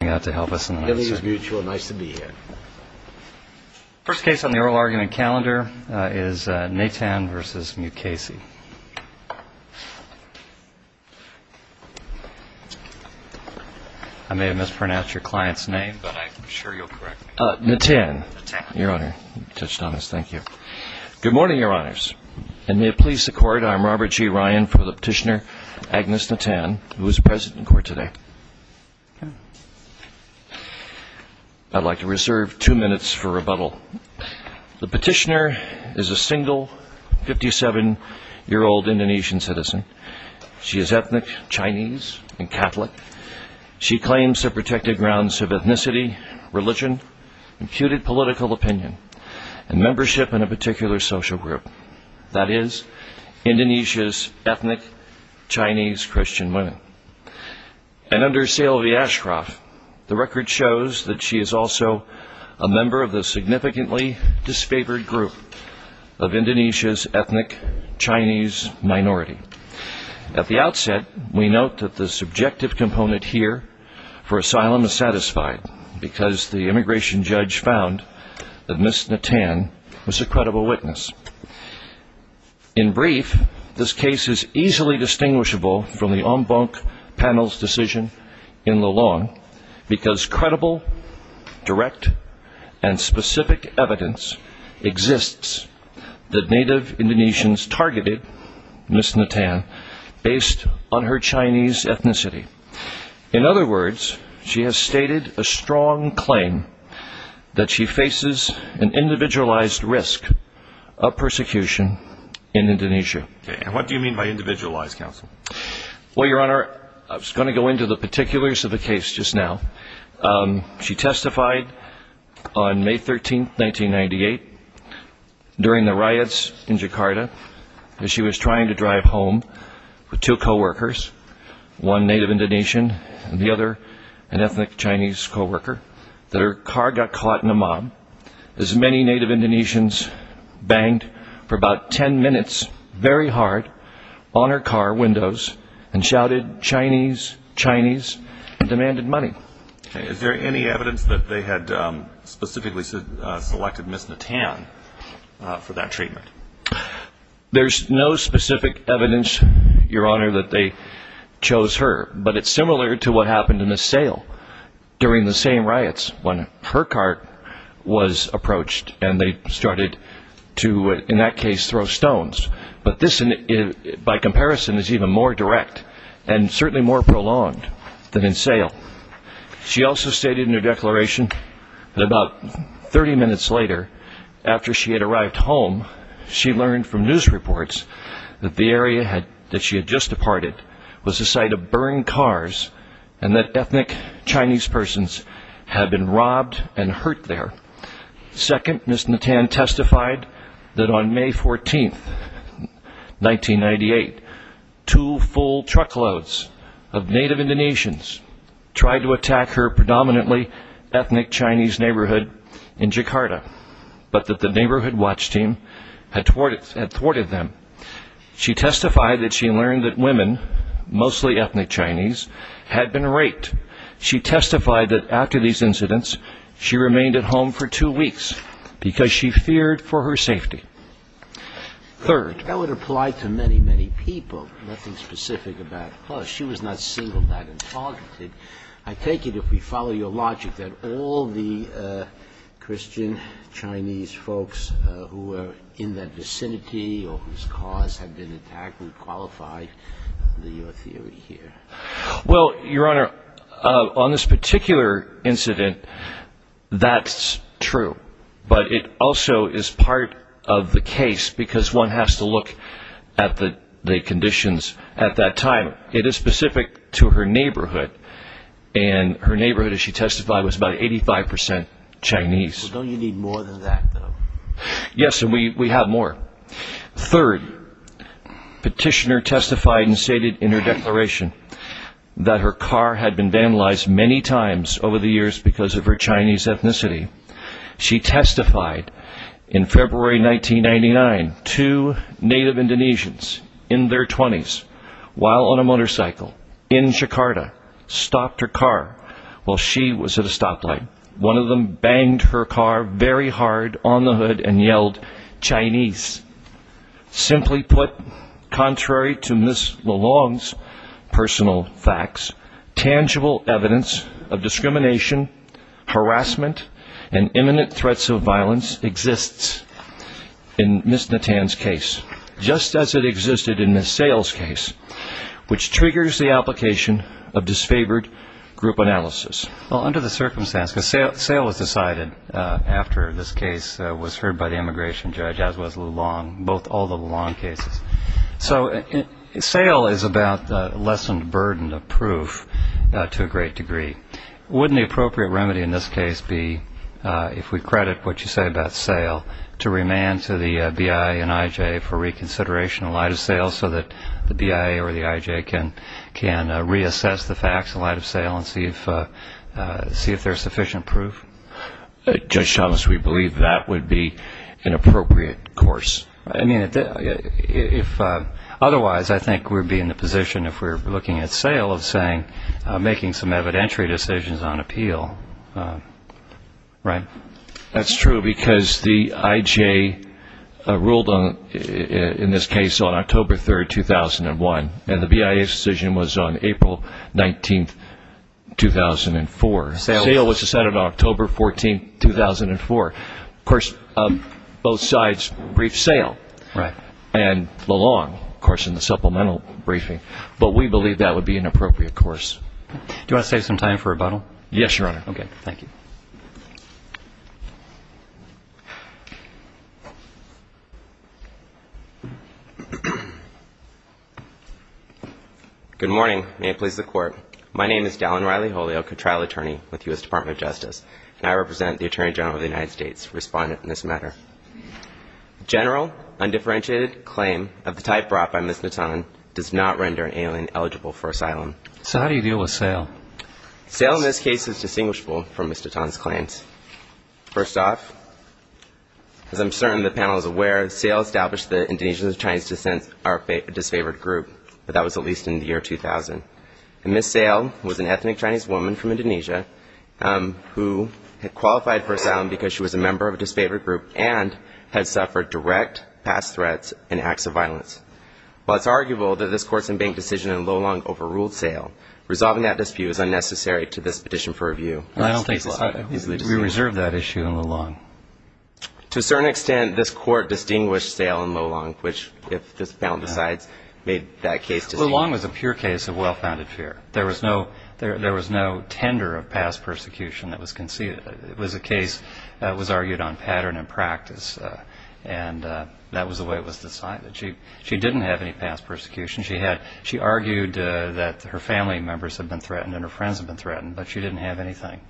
I may have mispronounced your client's name, but I'm sure you'll correct me. Natan. Natan. Your Honor. You touched on this. Thank you. Good morning, Your Honors. And may it please the Court, I am Robert G. Ryan for the petitioner Agnes Natan, who Thank you. Thank you. Thank you. Thank you. Thank you. Thank you. Thank you. Thank you. Thank you. Thank you. I'd like to reserve two minutes for rebuttal. The petitioner is a single, 57-year-old Indonesian citizen. She is ethnic Chinese and Catholic. She claims to have protected grounds of ethnicity, religion, imputed political opinion, and membership in a particular social group, that is, Indonesia's ethnic Chinese Christian women. And under Selvi Ashcroft, the record shows that she is also a member of the significantly disfavored group of Indonesia's ethnic Chinese minority. At the outset, we note that the subjective component here for asylum is satisfied, because the immigration judge found that Ms. Natan was a credible witness. In brief, this case is easily distinguishable from the en banc panel's decision in LaLange, because credible, direct, and specific evidence exists that native Indonesians targeted Ms. Natan based on her Chinese ethnicity. In other words, she has stated a strong claim that she faces an individualized risk of persecution in Indonesia. And what do you mean by individualized, counsel? Well, Your Honor, I was going to go into the particulars of the case just now. She testified on May 13, 1998, during the riots in Jakarta, as she was trying to drive home with two co-workers, one native Indonesian and the other an ethnic Chinese co-worker, that her car got caught in a mob, as many native Indonesians banged for about 10 minutes very hard on her car windows and shouted, Chinese, Chinese, and demanded money. Is there any evidence that they had specifically selected Ms. Natan for that treatment? There's no specific evidence, Your Honor, that they chose her, but it's similar to what happened in the sale during the same riots, when her cart was approached and they started to, in that case, throw stones. But this, by comparison, is even more direct and certainly more prolonged than in sale. She also stated in her declaration that about 30 minutes later, after she had arrived home, she learned from news reports that the area that she had just departed was the site of burned cars and that ethnic Chinese persons had been robbed and hurt there. Second, Ms. Natan testified that on May 14, 1998, two full truckloads of native Indonesians tried to attack her predominantly ethnic Chinese neighborhood in Jakarta, but that the neighborhood watch team had thwarted them. She testified that she learned that women, mostly ethnic Chinese, had been raped. She testified that after these incidents, she remained at home for two weeks because she feared for her safety. Third, that would apply to many, many people, nothing specific about her. She was not singled out and targeted. I take it, if we follow your logic, that all the Christian Chinese folks who were in that vicinity or whose cars had been attacked would qualify your theory here. Well, Your Honor, on this particular incident, that's true. But it also is part of the case because one has to look at the conditions at that time. It is specific to her neighborhood, and her neighborhood, as she testified, was about 85% Chinese. Well, don't you need more than that, though? Yes, and we have more. Third, Petitioner testified and stated in her declaration that her car had been vandalized many times over the years because of her Chinese ethnicity. She testified in February 1999, two native Indonesians in their 20s, while on a motorcycle in Jakarta, stopped her car while she was at a stoplight. One of them banged her car very hard on the hood and yelled, Chinese. Simply put, contrary to Ms. LeLong's personal facts, tangible evidence of discrimination, harassment, and imminent threats of violence exists in Ms. Natan's case, just as it existed in Ms. Sayle's case, which triggers the application of disfavored group analysis. Well, under the circumstances, because Sayle was decided after this case was heard by the immigration judge, as was LeLong, both all the LeLong cases. So Sayle is about lessened burden of proof to a great degree. Wouldn't the appropriate remedy in this case be, if we credit what you say about Sayle, to remand to the BIA and IJ for reconsideration in light of Sayle so that the BIA or the IJ can reassess the facts in light of Sayle and see if there's sufficient proof? Judge Thomas, we believe that would be an appropriate course. I mean, if otherwise, I think we would be in a position, if we're looking at Sayle, of saying making some evidentiary decisions on appeal, right? That's true, because the IJ ruled in this case on October 3, 2001, and the BIA's decision was on April 19, 2004. Sayle was decided on October 14, 2004. Of course, both sides briefed Sayle and LeLong, of course, in the supplemental briefing, but we believe that would be an appropriate course. Do you want to save some time for rebuttal? Yes, Your Honor. Okay. Thank you. Good morning. May it please the Court. My name is Dallin Riley Holyoak, a trial attorney with the U.S. Department of Justice, and I represent the Attorney General of the United States, respondent in this matter. General undifferentiated claim of the type brought by Ms. Natan does not render an alien eligible for asylum. So how do you deal with Sayle? Sayle in this case is distinguishable from Ms. Natan's claims. First off, as I'm certain the panel is aware, Sayle established the Indonesians of Chinese descent are a disfavored group, but that was at least in the year 2000. And Ms. Sayle was an ethnic Chinese woman from Indonesia who qualified for asylum because she was a member of a disfavored group and had suffered direct past threats and acts of violence. While it's arguable that this Court's in-bank decision in LeLong overruled Sayle, resolving that dispute is unnecessary to this petition for review. I don't think we reserve that issue in LeLong. To a certain extent, this Court distinguished Sayle and LeLong, which, if this panel decides, made that case distinct. LeLong was a pure case of well-founded fear. There was no tender of past persecution that was conceded. It was a case that was argued on pattern and practice, and that was the way it was decided. She didn't have any past persecution. She argued that her family members had been threatened and her friends had been threatened, but she didn't have anything.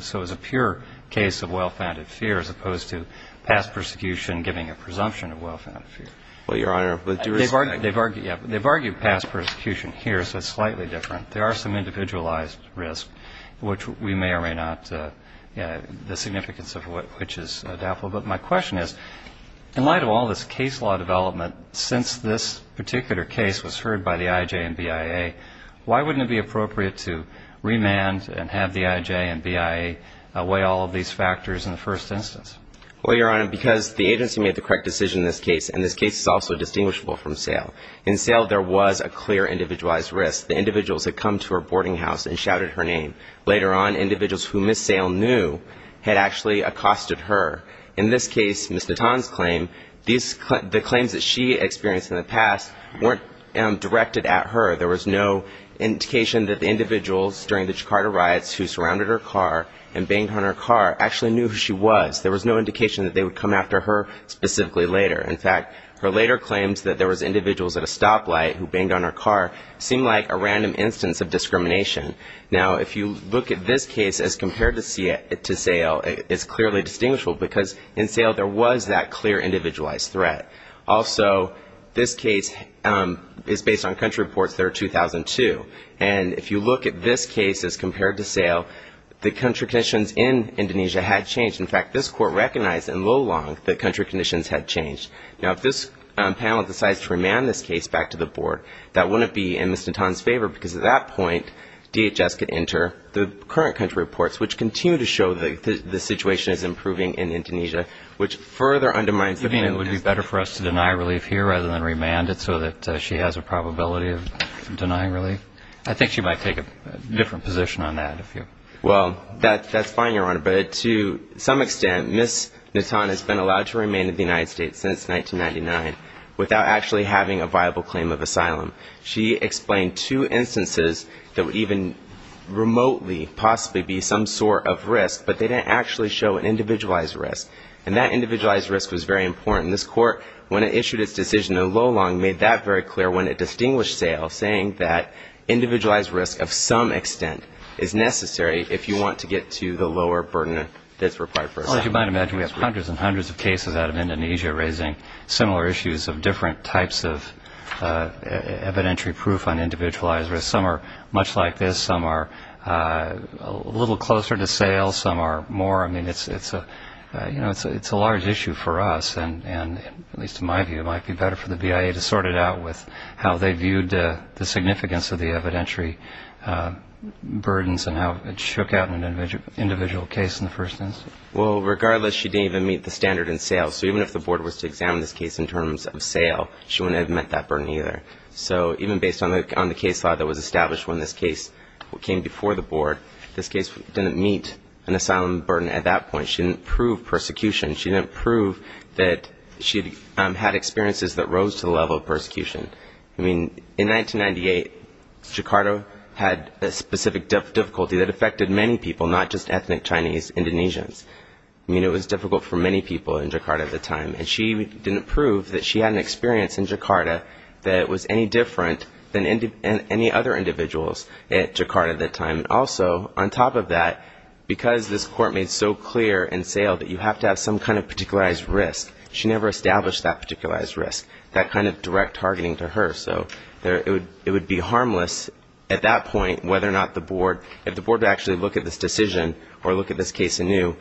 So it was a pure case of well-founded fear as opposed to past persecution giving a presumption of well-founded fear. Well, Your Honor, with due respect. They've argued past persecution here, so it's slightly different. There are some individualized risks, which we may or may not, the significance of which is doubtful. But my question is, in light of all this case law development, since this particular case was heard by the IJ and BIA, why wouldn't it be appropriate to remand and have the IJ and BIA weigh all of these factors in the first instance? Well, Your Honor, because the agency made the correct decision in this case, and this case is also distinguishable from Sale. In Sale, there was a clear individualized risk. The individuals had come to her boarding house and shouted her name. Later on, individuals who Ms. Sale knew had actually accosted her. In this case, Ms. Natan's claim, the claims that she experienced in the past weren't directed at her. There was no indication that the individuals during the Jakarta riots who surrounded her car and banged on her car actually knew who she was. There was no indication that they would come after her specifically later. In fact, her later claims that there was individuals at a stoplight who banged on her car seemed like a random instance of discrimination. Now, if you look at this case as compared to Sale, it's clearly distinguishable because in Sale there was that clear individualized threat. Also, this case is based on country reports that are 2002. And if you look at this case as compared to Sale, the contradictions in Indonesia had changed. In fact, this court recognized in Lolong that country conditions had changed. Now, if this panel decides to remand this case back to the board, that wouldn't be in Ms. Natan's favor because at that point, DHS could enter the current country reports, which continue to show the situation is improving in Indonesia, which further undermines the claim. You mean it would be better for us to deny relief here rather than remand it so that she has a probability of denying relief? I think she might take a different position on that, if you're... Well, that's fine, Your Honor, but to some extent, Ms. Natan has been allowed to remain in the United States since 1999 without actually having a viable claim of asylum. She explained two instances that would even remotely possibly be some sort of risk, but they didn't actually show an individualized risk. And that individualized risk was very important. And this court, when it issued its decision in Lolong, made that very clear when it distinguished Sale, saying that individualized risk of some extent is necessary if you want to get to the lower burden that's required for asylum. Well, as you might imagine, we have hundreds and hundreds of cases out of Indonesia raising similar issues of different types of evidentiary proof on individualized risk. Some are much like this, some are a little closer to Sale, some are more. I mean, it's a large issue for us. And at least in my view, it might be better for the BIA to sort it out with how they viewed the significance of the evidentiary burdens and how it shook out an individual case in the first instance. Well, regardless, she didn't even meet the standard in Sale. So even if the board was to examine this case in terms of Sale, she wouldn't have met that burden either. So even based on the case law that was established when this case came before the board, this case didn't meet an asylum burden at that point. She didn't prove persecution. She didn't prove that she had experiences that rose to the level of persecution. I mean, in 1998, Jakarta had a specific difficulty that affected many people, not just ethnic Chinese Indonesians. I mean, it was difficult for many people in Jakarta at the time. And she didn't prove that she had an experience in Jakarta that was any different than any other individuals at Jakarta at that time. And also, on top of that, because this court made so clear in Sale that you have to have some kind of particularized risk, she never established that particularized risk, that kind of direct targeting to her. So it would be harmless at that point whether or not the board, if the board would actually look at this decision or look at this case anew,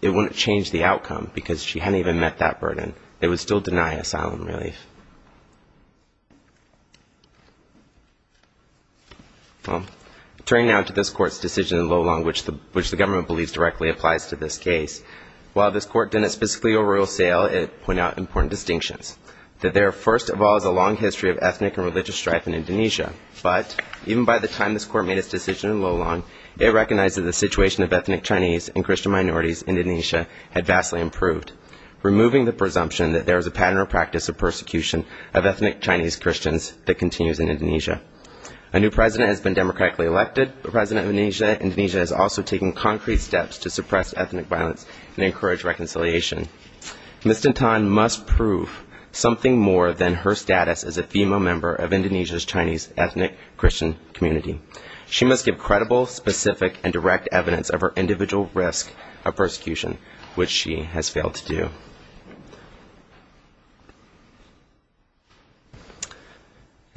it wouldn't change the outcome because she hadn't even met that burden. It would still deny asylum relief. Turning now to this court's decision in Lolong, which the government believes directly applies to this case. While this court didn't specifically overrule Sale, it pointed out important distinctions. That there first of all is a long history of ethnic and religious strife in Indonesia. But even by the time this court made its decision in Lolong, it recognized that the situation of ethnic Chinese and Christian minorities in Indonesia had vastly improved, removing the presumption that there was a pattern or practice of persecution of ethnic Chinese Christians that continues in Indonesia. A new president has been democratically elected. The president of Indonesia has also taken concrete steps to suppress ethnic violence and encourage reconciliation. Mr. Tan must prove something more than her status as a female member of Indonesia's Chinese ethnic Christian community. She must give credible, specific, and direct evidence of her individual risk of persecution, which she has failed to do.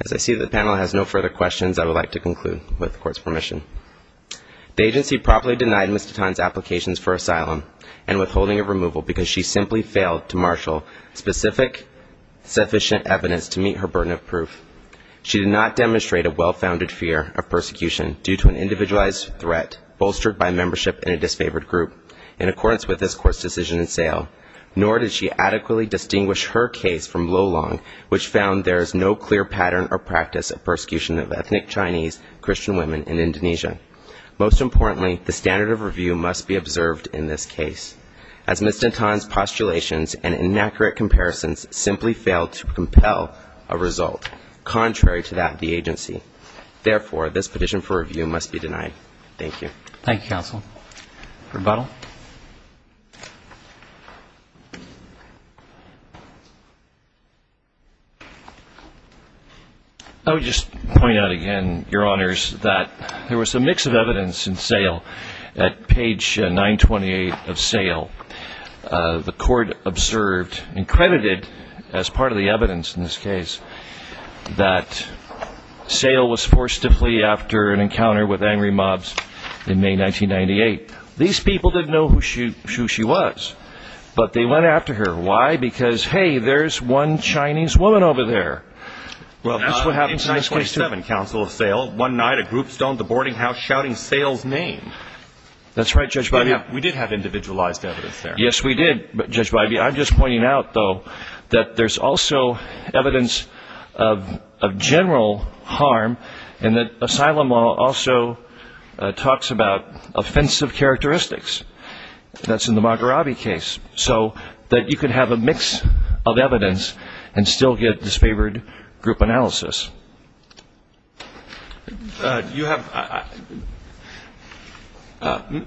As I see the panel has no further questions, I would like to conclude with the court's permission. The agency properly denied Mr. Tan's applications for asylum and withholding of removal because she simply failed to marshal specific, sufficient evidence to meet her burden of proof. She did not demonstrate a well-founded fear of persecution due to an individualized threat bolstered by membership in a disfavored group, in accordance with this court's decision in Sale. Nor did she adequately distinguish her case from Lolong, which found there is no clear pattern or practice of persecution of ethnic Chinese Christian women in Indonesia. Most importantly, the standard of review must be observed in this case, as Mr. Tan's postulations and inaccurate comparisons simply failed to compel a result, contrary to that of the agency. Therefore, this petition for review must be denied. I would just point out again, Your Honors, that there was a mix of evidence in Sale. At page 928 of Sale, the court observed, and credited as part of the evidence in this case, that Sale was forced to flee after an encounter with angry mobs in May 1998. These people didn't know who she was, but they went after her. Why? Because, hey, there's one Chinese woman over there. Well, that's what happens in 927, Council of Sale. One night, a group stormed the boarding house shouting Sale's name. That's right, Judge Bidey. We did have individualized evidence there. Yes, we did, Judge Bidey. I'm just pointing out, though, that there's also evidence of general harm, and that asylum law also talks about offensive characteristics. That's in the Magarabi case. So you can have a mix of evidence and still get disfavored group analysis.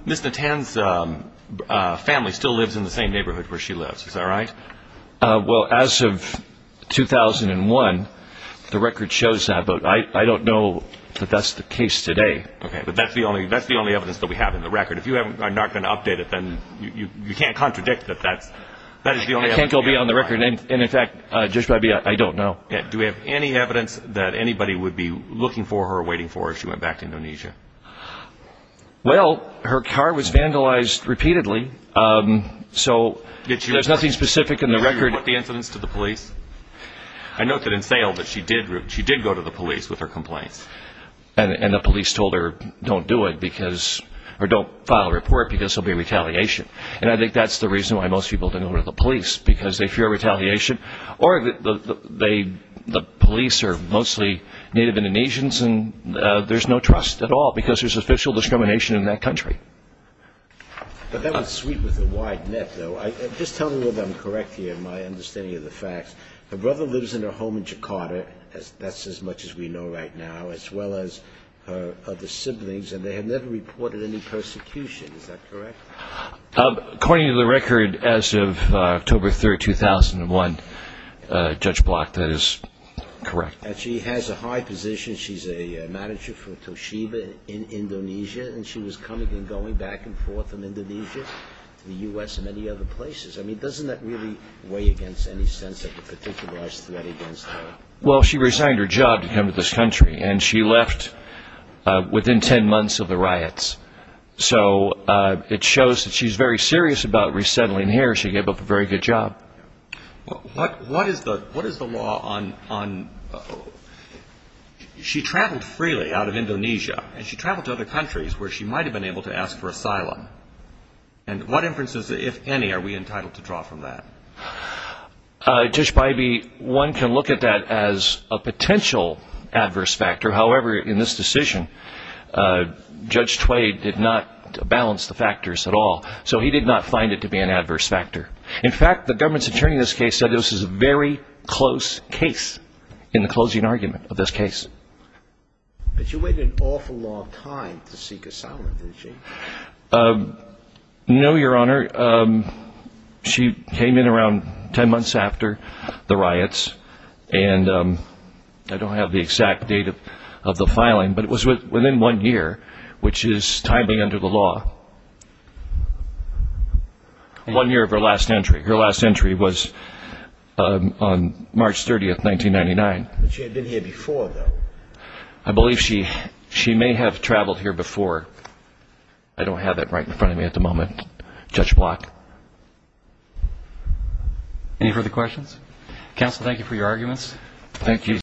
Ms. Natan's family still lives in the same neighborhood where she lives, is that right? Well, as of 2001, the record shows that, but I don't know that that's the case today. Okay, but that's the only evidence that we have in the record. If you are not going to update it, then you can't contradict that that is the only evidence. I think it will be on the record, and in fact, Judge Bidey, I don't know. Do we have any evidence that anybody would be looking for her or waiting for her if she went back to Indonesia? Well, her car was vandalized repeatedly, so there's nothing specific in the record. Did you report the incidents to the police? I note that in Sale, she did go to the police with her complaints. And the police told her, don't do it, or don't file a report, because there will be retaliation. And I think that's the reason why most people don't go to the police, because they fear retaliation, or the police are mostly Native Indonesians and there's no trust at all, because there's official discrimination in that country. But that would sweep with a wide net, though. Just tell me if I'm correct here in my understanding of the facts. Her brother lives in her home in Jakarta. That's as much as we know right now, as well as her other siblings, and they have never reported any persecution. Is that correct? According to the record, as of October 3, 2001, Judge Block, that is correct. And she has a high position. She's a manager for Toshiba in Indonesia, and she was coming and going back and forth from Indonesia to the U.S. and many other places. I mean, doesn't that really weigh against any sense of a particularized threat against her? Well, she resigned her job to come to this country, and she left within ten months of the riots. So it shows that she's very serious about resettling here. She gave up a very good job. What is the law on – she traveled freely out of Indonesia, and she traveled to other countries where she might have been able to ask for asylum. And what inferences, if any, are we entitled to draw from that? Judge Bybee, one can look at that as a potential adverse factor. However, in this decision, Judge Tway did not balance the factors at all, so he did not find it to be an adverse factor. In fact, the government's attorney in this case said this is a very close case in the closing argument of this case. But you waited an awful long time to seek asylum, didn't you? No, Your Honor. She came in around ten months after the riots, and I don't have the exact date of the filing, but it was within one year, which is timing under the law. One year of her last entry. Her last entry was on March 30, 1999. But she had been here before, though. I believe she may have traveled here before. I don't have that right in front of me at the moment, Judge Block. Any further questions?